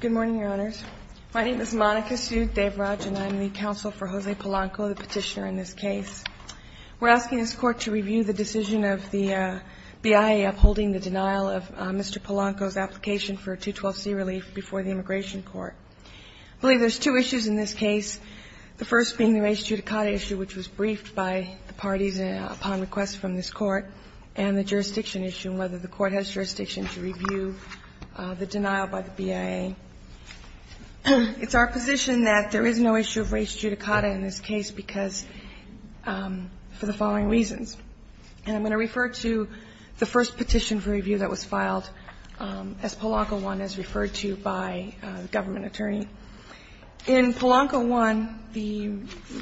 Good morning, Your Honors. My name is Monica Sud-Devraj, and I'm the counsel for Jose Polanco, the petitioner in this case. We're asking this Court to review the decision of the BIA upholding the denial of Mr. Polanco's application for a 212c relief before the Immigration Court. I believe there's two issues in this case, the first being the Res Judicata issue, which was briefed by the parties upon request from this Court, and the jurisdiction issue, and whether the Court has jurisdiction to review the denial by the BIA. It's our position that there is no issue of Res Judicata in this case because, for the following reasons, and I'm going to refer to the first petition for review that was filed as Polanco 1, as referred to by a government attorney. In Polanco 1, the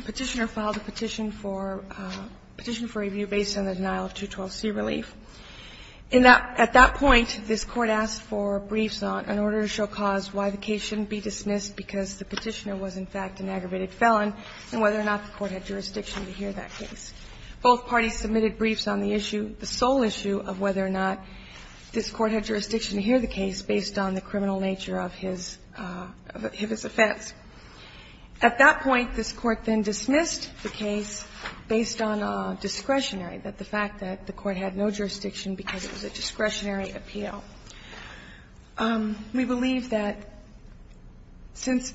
petitioner filed a petition for review based on the denial of 212c relief. At that point, this Court asked for briefs on an order to show cause why the case shouldn't be dismissed because the petitioner was, in fact, an aggravated felon, and whether or not the Court had jurisdiction to hear that case. Both parties submitted briefs on the issue, the sole issue of whether or not this Court had jurisdiction to hear the case based on the criminal nature of his offense. At that point, this Court had no jurisdiction because it was a discretionary appeal. We believe that since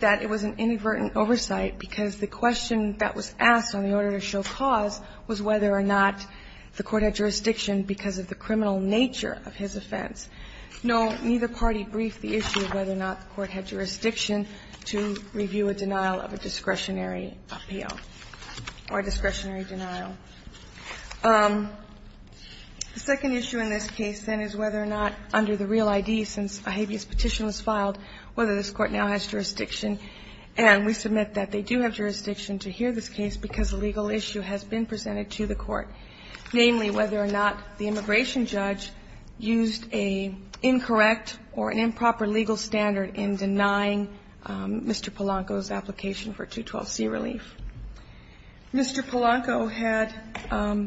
that it was an inadvertent oversight, because the question that was asked on the order to show cause was whether or not the Court had jurisdiction because of the criminal nature of his offense. No, neither party briefed the issue of whether or not the Court had jurisdiction to review a denial of a discretionary appeal or a discretionary appeal of a denial. The second issue in this case, then, is whether or not, under the real ID, since a habeas petition was filed, whether this Court now has jurisdiction. And we submit that they do have jurisdiction to hear this case because a legal issue has been presented to the Court, namely, whether or not the immigration judge used an incorrect or an improper legal standard in denying Mr. Polanco's application for 212c relief. Mr. Polanco had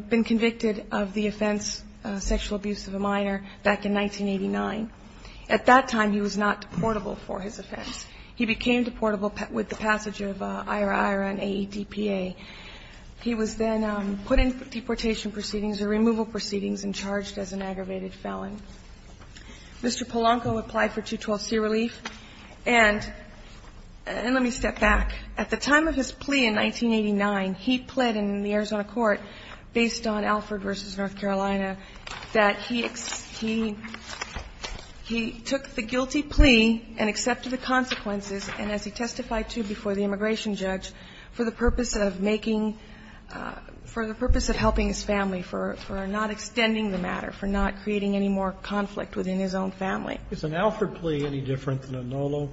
been convicted of the offense, sexual abuse of a minor, back in 1989. At that time, he was not deportable for his offense. He became deportable with the passage of IRR and AEDPA. He was then put in for deportation proceedings or removal proceedings and charged as an aggravated felon. Mr. Polanco applied for 212c relief. And let me step back. At the time of his plea in 1989, he pled in the Arizona court, based on Alford v. North Carolina, that he took the guilty plea and accepted the consequences, and as he testified to before the immigration judge, for the purpose of making for the purpose of helping his family, for not extending the matter, for not creating any more conflict within his own family. Is an Alford plea any different than a NOLO?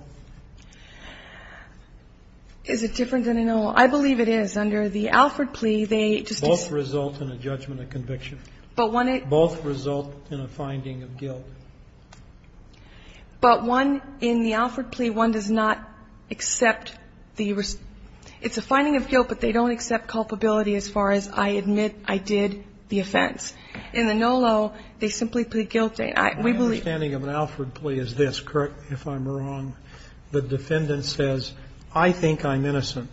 Is it different than a NOLO? I believe it is. Under the Alford plea, they just Both result in a judgment of conviction. But one Both result in a finding of guilt. But one, in the Alford plea, one does not accept the rest. It's a finding of guilt, but they don't accept culpability as far as I admit I did the offense. In the NOLO, they simply plead guilty. We believe My understanding of an Alford plea is this, correct me if I'm wrong. The defendant says, I think I'm innocent,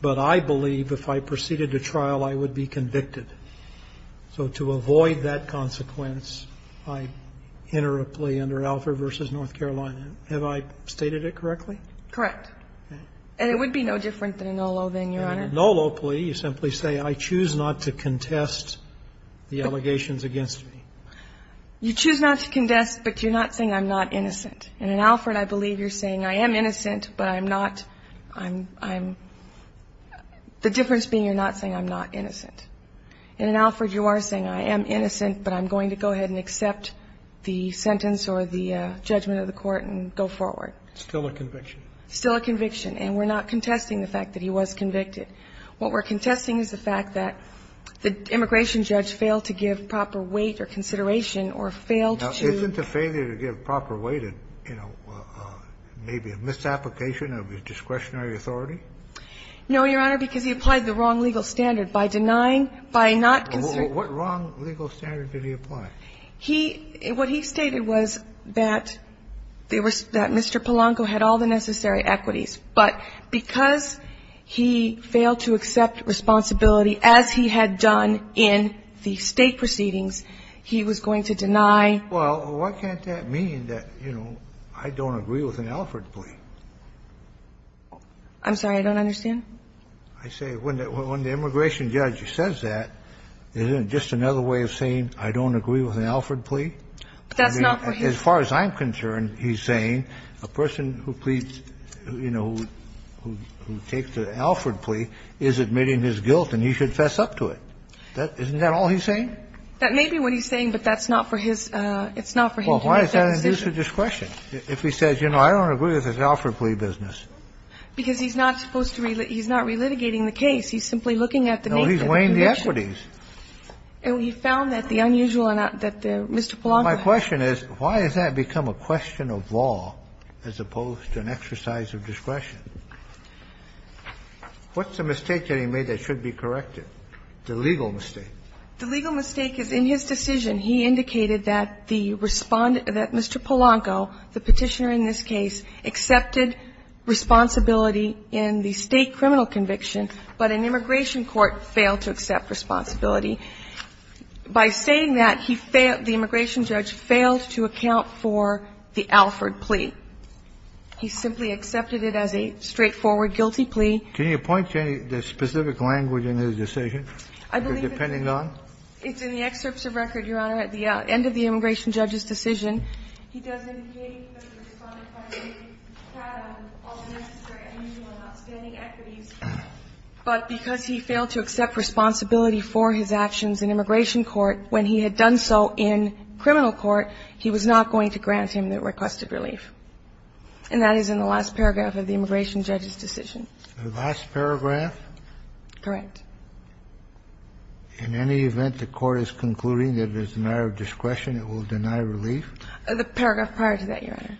but I believe if I proceeded to trial, I would be convicted. So to avoid that consequence, I enter a plea under Alford v. North Carolina. Have I stated it correctly? Correct. And it would be no different than a NOLO, then, Your Honor. In the NOLO plea, you simply say, I choose not to contest the allegations against me. You choose not to contest, but you're not saying I'm not innocent. And in Alford, I believe you're saying, I am innocent, but I'm not, I'm, I'm, the difference being you're not saying I'm not innocent. And in Alford, you are saying, I am innocent, but I'm going to go ahead and accept the sentence or the judgment of the court and go forward. Still a conviction. Still a conviction. And we're not contesting the fact that he was convicted. What we're contesting is the fact that the immigration judge failed to give proper weight or consideration or failed to do the right thing. Now, isn't a failure to give proper weight a, you know, maybe a misapplication of his discretionary authority? No, Your Honor, because he applied the wrong legal standard. By denying, by not considering. What wrong legal standard did he apply? He, what he stated was that they were, that Mr. Polanco had all the necessary equities, but because he failed to accept responsibility as he had done in the State proceedings, he was going to deny. Well, what can't that mean that, you know, I don't agree with an Alford plea? I'm sorry, I don't understand? I say when the immigration judge says that, isn't it just another way of saying I don't agree with an Alford plea? That's not for him. As far as I'm concerned, he's saying a person who pleads, you know, who takes an Alford plea is admitting his guilt, and he should fess up to it. Isn't that all he's saying? That may be what he's saying, but that's not for his – it's not for him to make that decision. Well, why is that an abuse of discretion, if he says, you know, I don't agree with this Alford plea business? Because he's not supposed to – he's not relitigating the case. He's simply looking at the nature of the condition. No, he's weighing the equities. And we found that the unusual that Mr. Polanco had. The question is, why has that become a question of law, as opposed to an exercise of discretion? What's the mistake that he made that should be corrected, the legal mistake? The legal mistake is, in his decision, he indicated that the respondent – that Mr. Polanco, the Petitioner in this case, accepted responsibility in the State criminal conviction, but an immigration court failed to accept responsibility. By saying that, he failed – the immigration judge failed to account for the Alford plea. He simply accepted it as a straightforward guilty plea. Can you point to any specific language in his decision, depending on? I believe it's in the excerpts of record, Your Honor, at the end of the immigration judge's decision. He does indicate that the respondent finally had all the necessary evidence for not demanding equities, but because he failed to accept responsibility for his actions in immigration court, when he had done so in criminal court, he was not going to grant him the requested relief. And that is in the last paragraph of the immigration judge's decision. The last paragraph? Correct. In any event, the Court is concluding that it is a matter of discretion, it will deny relief? The paragraph prior to that, Your Honor.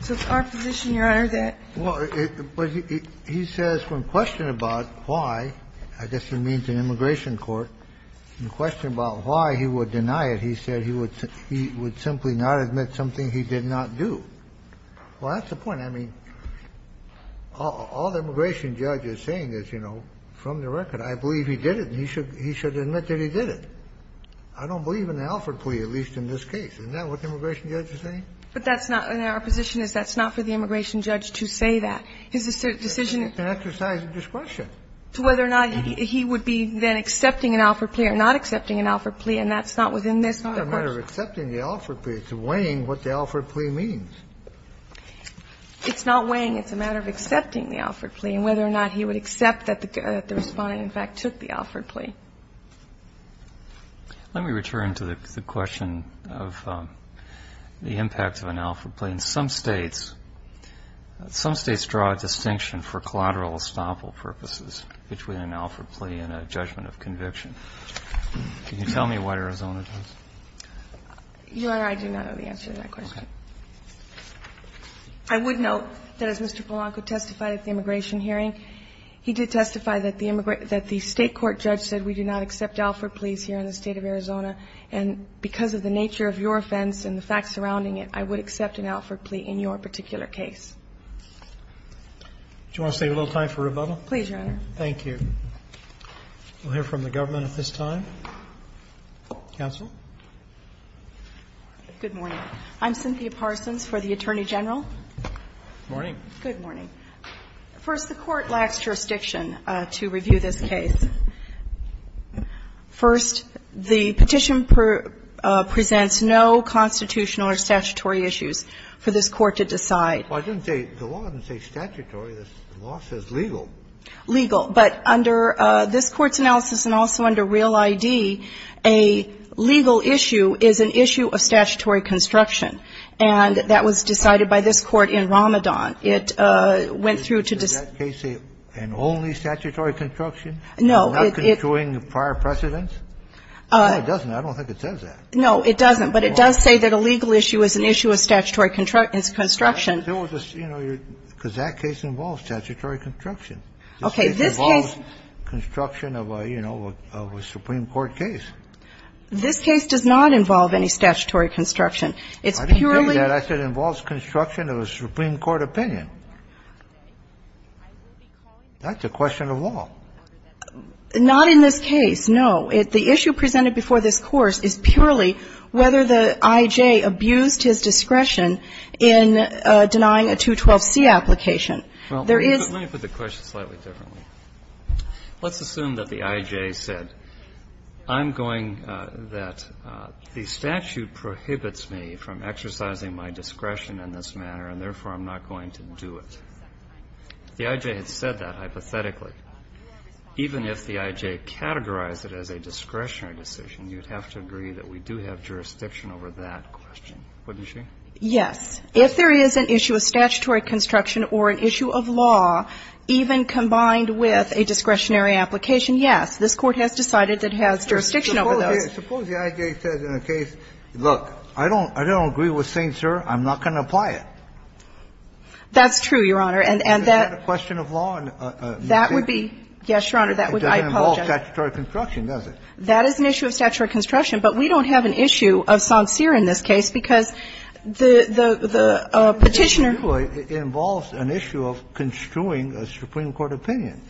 So it's our position, Your Honor, that he says when questioned about why – I guess it means an immigration court – when questioned about why he would deny it, he said he would simply not admit something he did not do. Well, that's the point. I mean, all the immigration judge is saying is, you know, from the record, I believe he did it and he should admit that he did it. I don't believe in the Alford plea, at least in this case. Isn't that what the immigration judge is saying? But that's not – our position is that's not for the immigration judge to say that. His decision – It's an exercise of discretion. Whether or not he would be then accepting an Alford plea or not accepting an Alford plea, and that's not within this court's – It's not a matter of accepting the Alford plea. It's weighing what the Alford plea means. It's not weighing. It's a matter of accepting the Alford plea and whether or not he would accept that the Respondent, in fact, took the Alford plea. Let me return to the question of the impact of an Alford plea. In some states – some states draw a distinction for collateral estoppel purposes between an Alford plea and a judgment of conviction. Can you tell me what Arizona does? Your Honor, I do not know the answer to that question. I would note that, as Mr. Polanco testified at the immigration hearing, he did testify that the state court judge said we do not accept Alford pleas here in the State of Arizona, and because of the nature of your offense and the facts surrounding it, I would accept an Alford plea in your particular case. Do you want to save a little time for rebuttal? Please, Your Honor. Thank you. We'll hear from the government at this time. Counsel. Good morning. I'm Cynthia Parsons for the Attorney General. Good morning. First, the Court lacks jurisdiction to review this case. First, the petition presents no constitutional or statutory issues for this Court to decide. Well, I didn't say the law didn't say statutory. The law says legal. Legal. But under this Court's analysis and also under Real ID, a legal issue is an issue of statutory construction, and that was decided by this Court in Ramadan. It went through to decide to say an only statutory construction? No. Not construing prior precedents? No, it doesn't. I don't think it says that. No, it doesn't. But it does say that a legal issue is an issue of statutory construction. There was a, you know, because that case involves statutory construction. Okay. This case involves construction of a, you know, of a Supreme Court case. This case does not involve any statutory construction. It's purely the law. I didn't tell you that. I said it involves construction of a Supreme Court opinion. That's a question of law. Not in this case, no. The issue presented before this Court is purely whether the IJ abused his discretion in denying a 212C application. There is the question slightly differently. Let's assume that the IJ said, I'm going that the statute prohibits me from exercising my discretion in this manner, and therefore, I'm not going to do it. If the IJ had said that hypothetically, even if the IJ categorized it as a discretionary decision, you'd have to agree that we do have jurisdiction over that question, wouldn't you? Yes. If there is an issue of statutory construction or an issue of law, even combined with a discretionary application, yes, this Court has decided that it has jurisdiction over those. Suppose the IJ says in a case, look, I don't agree with St. Sir, I'm not going to apply it. That's true, Your Honor, and that's a question of law. That would be, yes, Your Honor, that would be, I apologize. It doesn't involve statutory construction, does it? That is an issue of statutory construction, but we don't have an issue of sancire in this case, because the Petitioner ---- It involves an issue of construing a Supreme Court opinion.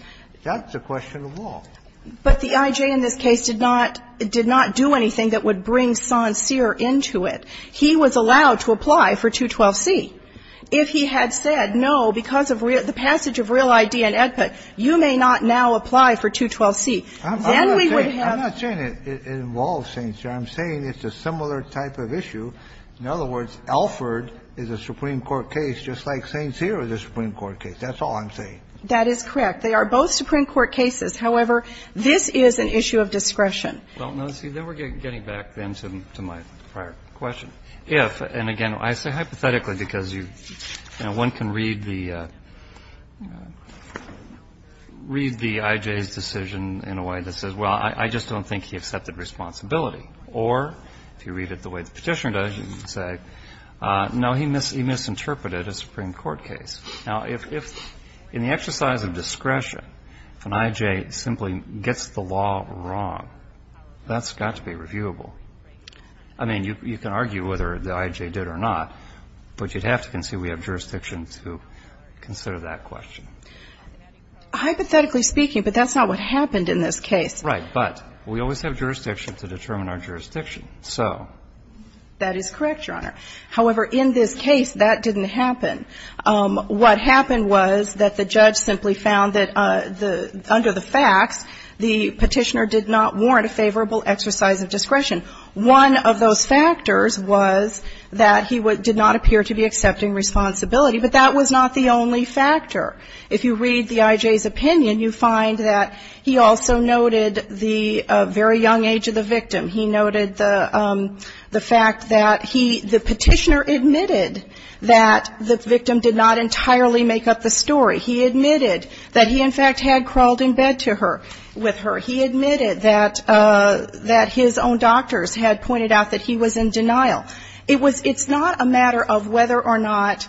That's a question of law. But the IJ in this case did not do anything that would bring sancire into it. He was allowed to apply for 212C. If he had said, no, because of the passage of Real ID and EDPA, you may not now apply for 212C, then we would have ---- I'm not saying it involves St. Sir. I'm saying it's a similar type of issue. In other words, Alford is a Supreme Court case just like St. Sir is a Supreme Court case. That's all I'm saying. That is correct. They are both Supreme Court cases. However, this is an issue of discretion. Well, no, see, then we're getting back then to my prior question. If, and again, I say hypothetically because you, you know, one can read the IJ's decision in a way that says, well, I just don't think he accepted responsibility. Or if you read it the way the Petitioner does, you can say, no, he misinterpreted a Supreme Court case. Now, if in the exercise of discretion, if an IJ simply gets the law wrong, that's got to be reviewable. I mean, you can argue whether the IJ did or not, but you'd have to concede we have jurisdiction to consider that question. Hypothetically speaking, but that's not what happened in this case. Right. But we always have jurisdiction to determine our jurisdiction. So. That is correct, Your Honor. However, in this case, that didn't happen. What happened was that the judge simply found that under the facts, the Petitioner did not warrant a favorable exercise of discretion. One of those factors was that he did not appear to be accepting responsibility, but that was not the only factor. If you read the IJ's opinion, you find that he also noted the very young age of the victim. He noted the fact that he, the Petitioner admitted that the victim did not entirely make up the story. He admitted that he, in fact, had crawled in bed to her, with her. He admitted that his own doctors had pointed out that he was in denial. It was not a matter of whether or not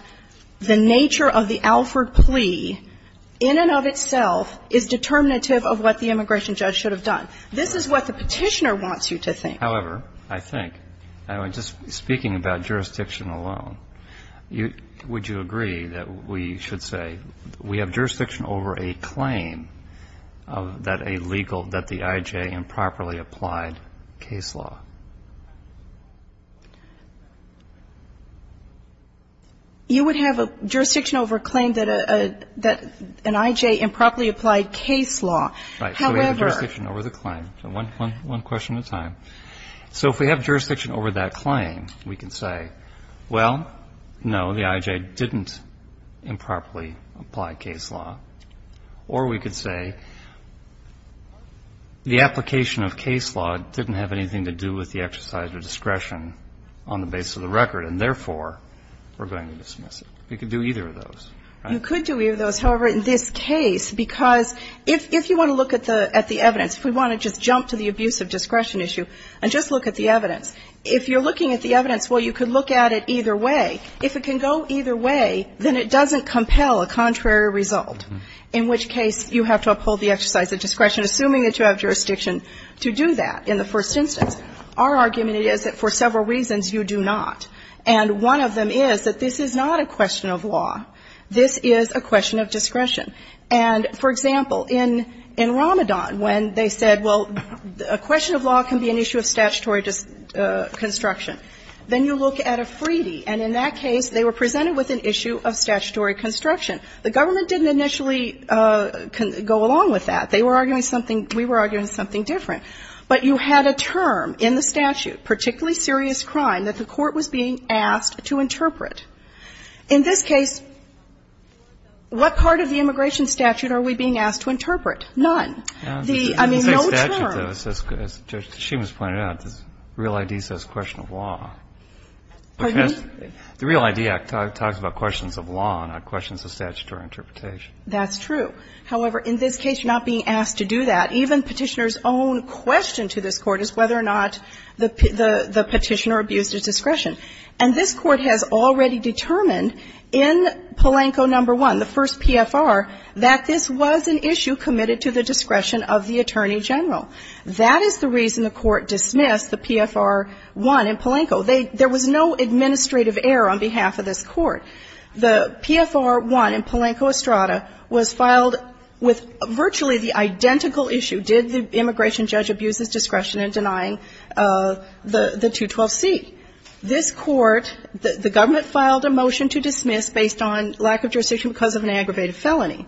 the nature of the Alford plea in and of itself is determinative of what the immigration judge should have done. This is what the Petitioner wants you to think. However, I think, just speaking about jurisdiction alone, would you agree that we should say we have jurisdiction over a claim that a legal, that the IJ improperly applied case law? You would have a jurisdiction over a claim that an IJ improperly applied case law. However. Right. So we have jurisdiction over the claim. One question at a time. So if we have jurisdiction over that claim, we can say, well, no, the IJ didn't improperly apply case law. Or we could say the application of case law didn't have anything to do with the exercise of discretion on the basis of the record, and therefore, we're going to dismiss it. We could do either of those. You could do either of those. However, in this case, because if you want to look at the evidence, if we want to just jump to the abuse of discretion issue and just look at the evidence, if you're looking at the evidence, well, you could look at it either way. If it can go either way, then it doesn't compel a contrary result. In which case, you have to uphold the exercise of discretion, assuming that you have jurisdiction to do that in the first instance. Our argument is that for several reasons, you do not. And one of them is that this is not a question of law. This is a question of discretion. And, for example, in Ramadan, when they said, well, a question of law can be an issue of statutory construction, then you look at a Freedy. And in that case, they were presented with an issue of statutory construction. The government didn't initially go along with that. They were arguing something we were arguing something different. But you had a term in the statute, particularly serious crime, that the court was being asked to interpret. In this case, what part of the immigration statute are we being asked to interpret? None. The, I mean, no term. Breyer. As she was pointing out, the real ID says question of law. Pardon? The real ID act talks about questions of law, not questions of statutory interpretation. That's true. However, in this case, not being asked to do that, even Petitioner's own question to this Court is whether or not the Petitioner abused his discretion. And this Court has already determined in Palenco No. 1, the first PFR, that this was an issue committed to the discretion of the Attorney General. That is the reason the Court dismissed the PFR 1 in Palenco. They, there was no administrative error on behalf of this Court. The PFR 1 in Palenco Estrada was filed with virtually the identical issue, did the immigration judge abuse his discretion in denying the 212C. This Court, the government filed a motion to dismiss based on lack of jurisdiction because of an aggravated felony.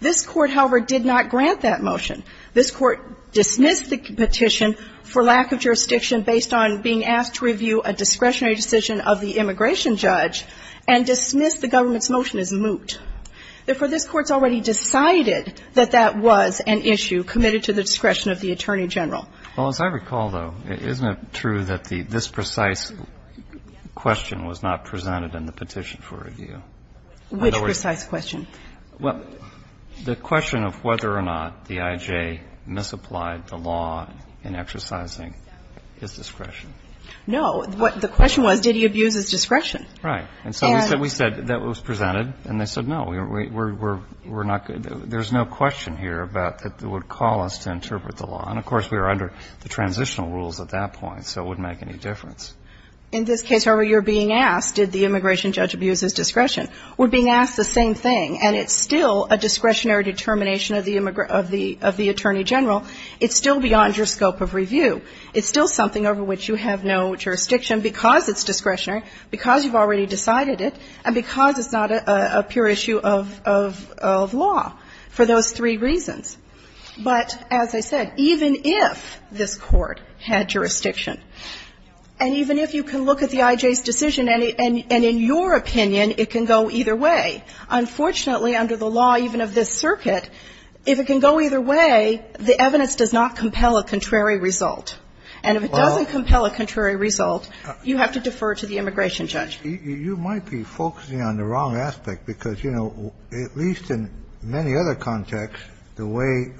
This Court, however, did not grant that motion. This Court dismissed the petition for lack of jurisdiction based on being asked to review a discretionary decision of the immigration judge and dismissed the government's motion as moot. Therefore, this Court's already decided that that was an issue committed to the discretion of the Attorney General. Well, as I recall, though, isn't it true that this precise question was not presented in the petition for review? Which precise question? Well, the question of whether or not the I.J. misapplied the law in exercising his discretion. No. The question was, did he abuse his discretion? Right. And so we said that was presented, and they said, no, we're not, there's no question here about that would call us to interpret the law. And, of course, we were under the transitional rules at that point, so it wouldn't make any difference. In this case, however, you're being asked, did the immigration judge abuse his discretion? We're being asked the same thing, and it's still a discretionary determination of the Attorney General. It's still beyond your scope of review. It's still something over which you have no jurisdiction because it's discretionary, because you've already decided it, and because it's not a pure issue of law for those three reasons. But, as I said, even if this Court had jurisdiction, and even if you can look at the I.J.'s decision, and in your opinion, it can go either way, unfortunately, under the law even of this circuit, if it can go either way, the evidence does not And if it doesn't compel a contrary result, you have to defer to the immigration judge. You might be focusing on the wrong aspect, because, you know, at least in many other contexts, the way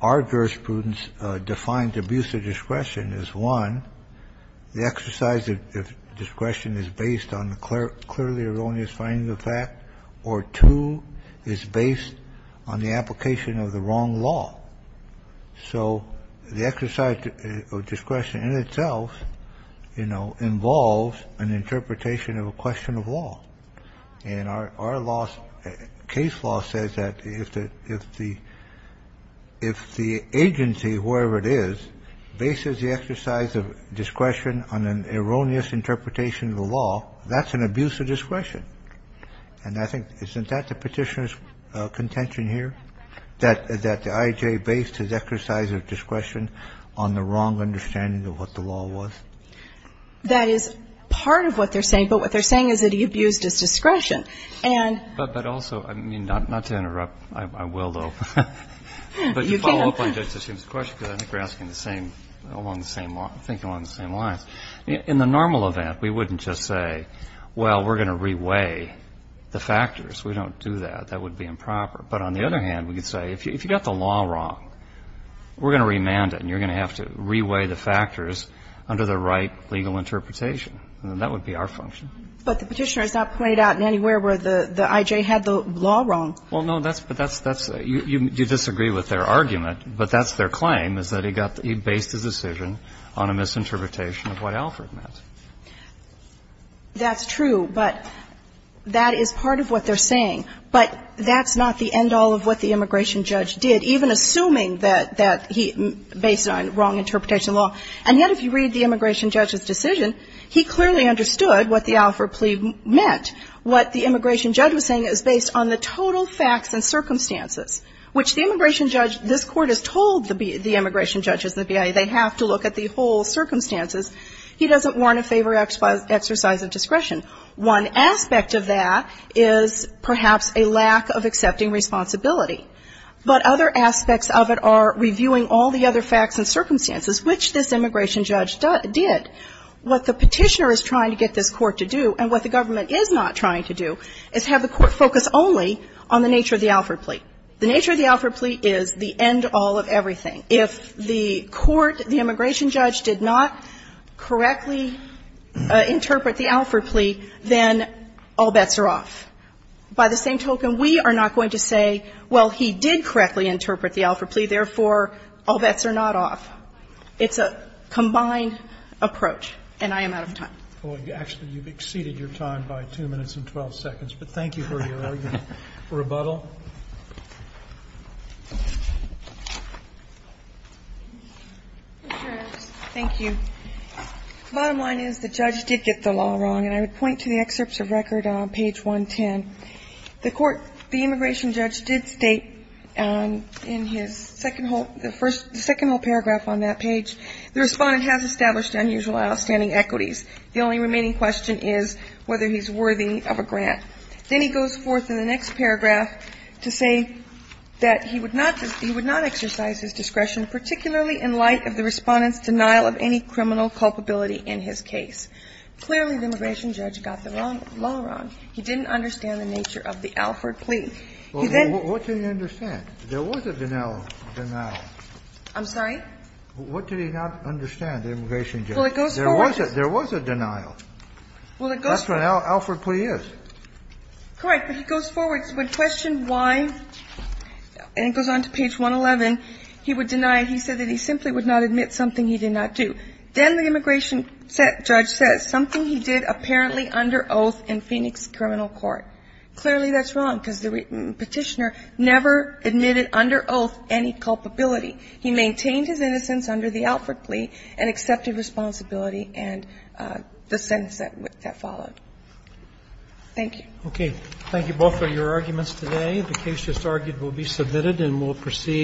our jurisprudence defines abuse of discretion is, one, the exercise of discretion is based on the clearly erroneous finding of fact, or, two, is based on the application of the wrong law. So the exercise of discretion in itself, you know, involves an interpretation of a question of law. And our case law says that if the agency, wherever it is, bases the exercise of discretion on an erroneous interpretation of the law, that's an abuse of discretion. And I think, isn't that the Petitioner's contention here, that the I.J. based his exercise of discretion on the wrong understanding of what the law was? That is part of what they're saying. But what they're saying is that he abused his discretion. And But also, I mean, not to interrupt, I will, though, but to follow up on Judge Sessions' question, because I think we're asking the same, along the same, I think along the same lines. In the normal event, we wouldn't just say, well, we're going to reweigh the factors. We don't do that. That would be improper. But on the other hand, we could say, if you got the law wrong, we're going to remand it, and you're going to have to reweigh the factors under the right legal interpretation. And that would be our function. But the Petitioner has not pointed out anywhere where the I.J. had the law wrong. Well, no, that's the thing. You disagree with their argument, but that's their claim, is that he got the ---- he got the I.J. wrong, and that's what Alford meant. That's true, but that is part of what they're saying. But that's not the end-all of what the immigration judge did, even assuming that he ---- based on wrong interpretation of the law. And yet, if you read the immigration judge's decision, he clearly understood what the Alford plea meant. What the immigration judge was saying is based on the total facts and circumstances, which the immigration judge ---- this Court has told the immigration judges, the BIA, they have to look at the whole circumstances, he doesn't want a favor exercise of discretion. One aspect of that is perhaps a lack of accepting responsibility. But other aspects of it are reviewing all the other facts and circumstances, which this immigration judge did. What the Petitioner is trying to get this Court to do, and what the government is not trying to do, is have the Court focus only on the nature of the Alford plea. The nature of the Alford plea is the end-all of everything. If the court, the immigration judge, did not correctly interpret the Alford plea, then all bets are off. By the same token, we are not going to say, well, he did correctly interpret the Alford plea, therefore, all bets are not off. It's a combined approach. And I am out of time. Roberts. Actually, you've exceeded your time by 2 minutes and 12 seconds, but thank you for your argument. Rebuttal. Thank you. Bottom line is, the judge did get the law wrong. And I would point to the excerpts of record on page 110. The immigration judge did state in the second whole paragraph on that page, the respondent has established unusual outstanding equities. The only remaining question is whether he's worthy of a grant. Then he goes forth in the next paragraph to say that he would not exercise his discretion, particularly in light of the respondent's denial of any criminal culpability in his case. Clearly, the immigration judge got the law wrong. He didn't understand the nature of the Alford plea. He then What did he understand? There was a denial. I'm sorry? What did he not understand, the immigration judge? Well, it goes forward. There was a denial. Well, it goes forward. That's what an Alford plea is. Correct. But it goes forward. So when questioned why, and it goes on to page 111, he would deny. He said that he simply would not admit something he did not do. Then the immigration judge says something he did apparently under oath in Phoenix criminal court. Clearly, that's wrong, because the Petitioner never admitted under oath any culpability. He maintained his innocence under the Alford plea and accepted responsibility and the sentence that followed. Thank you. Okay. Thank you both for your arguments today. The case just argued will be submitted and will proceed.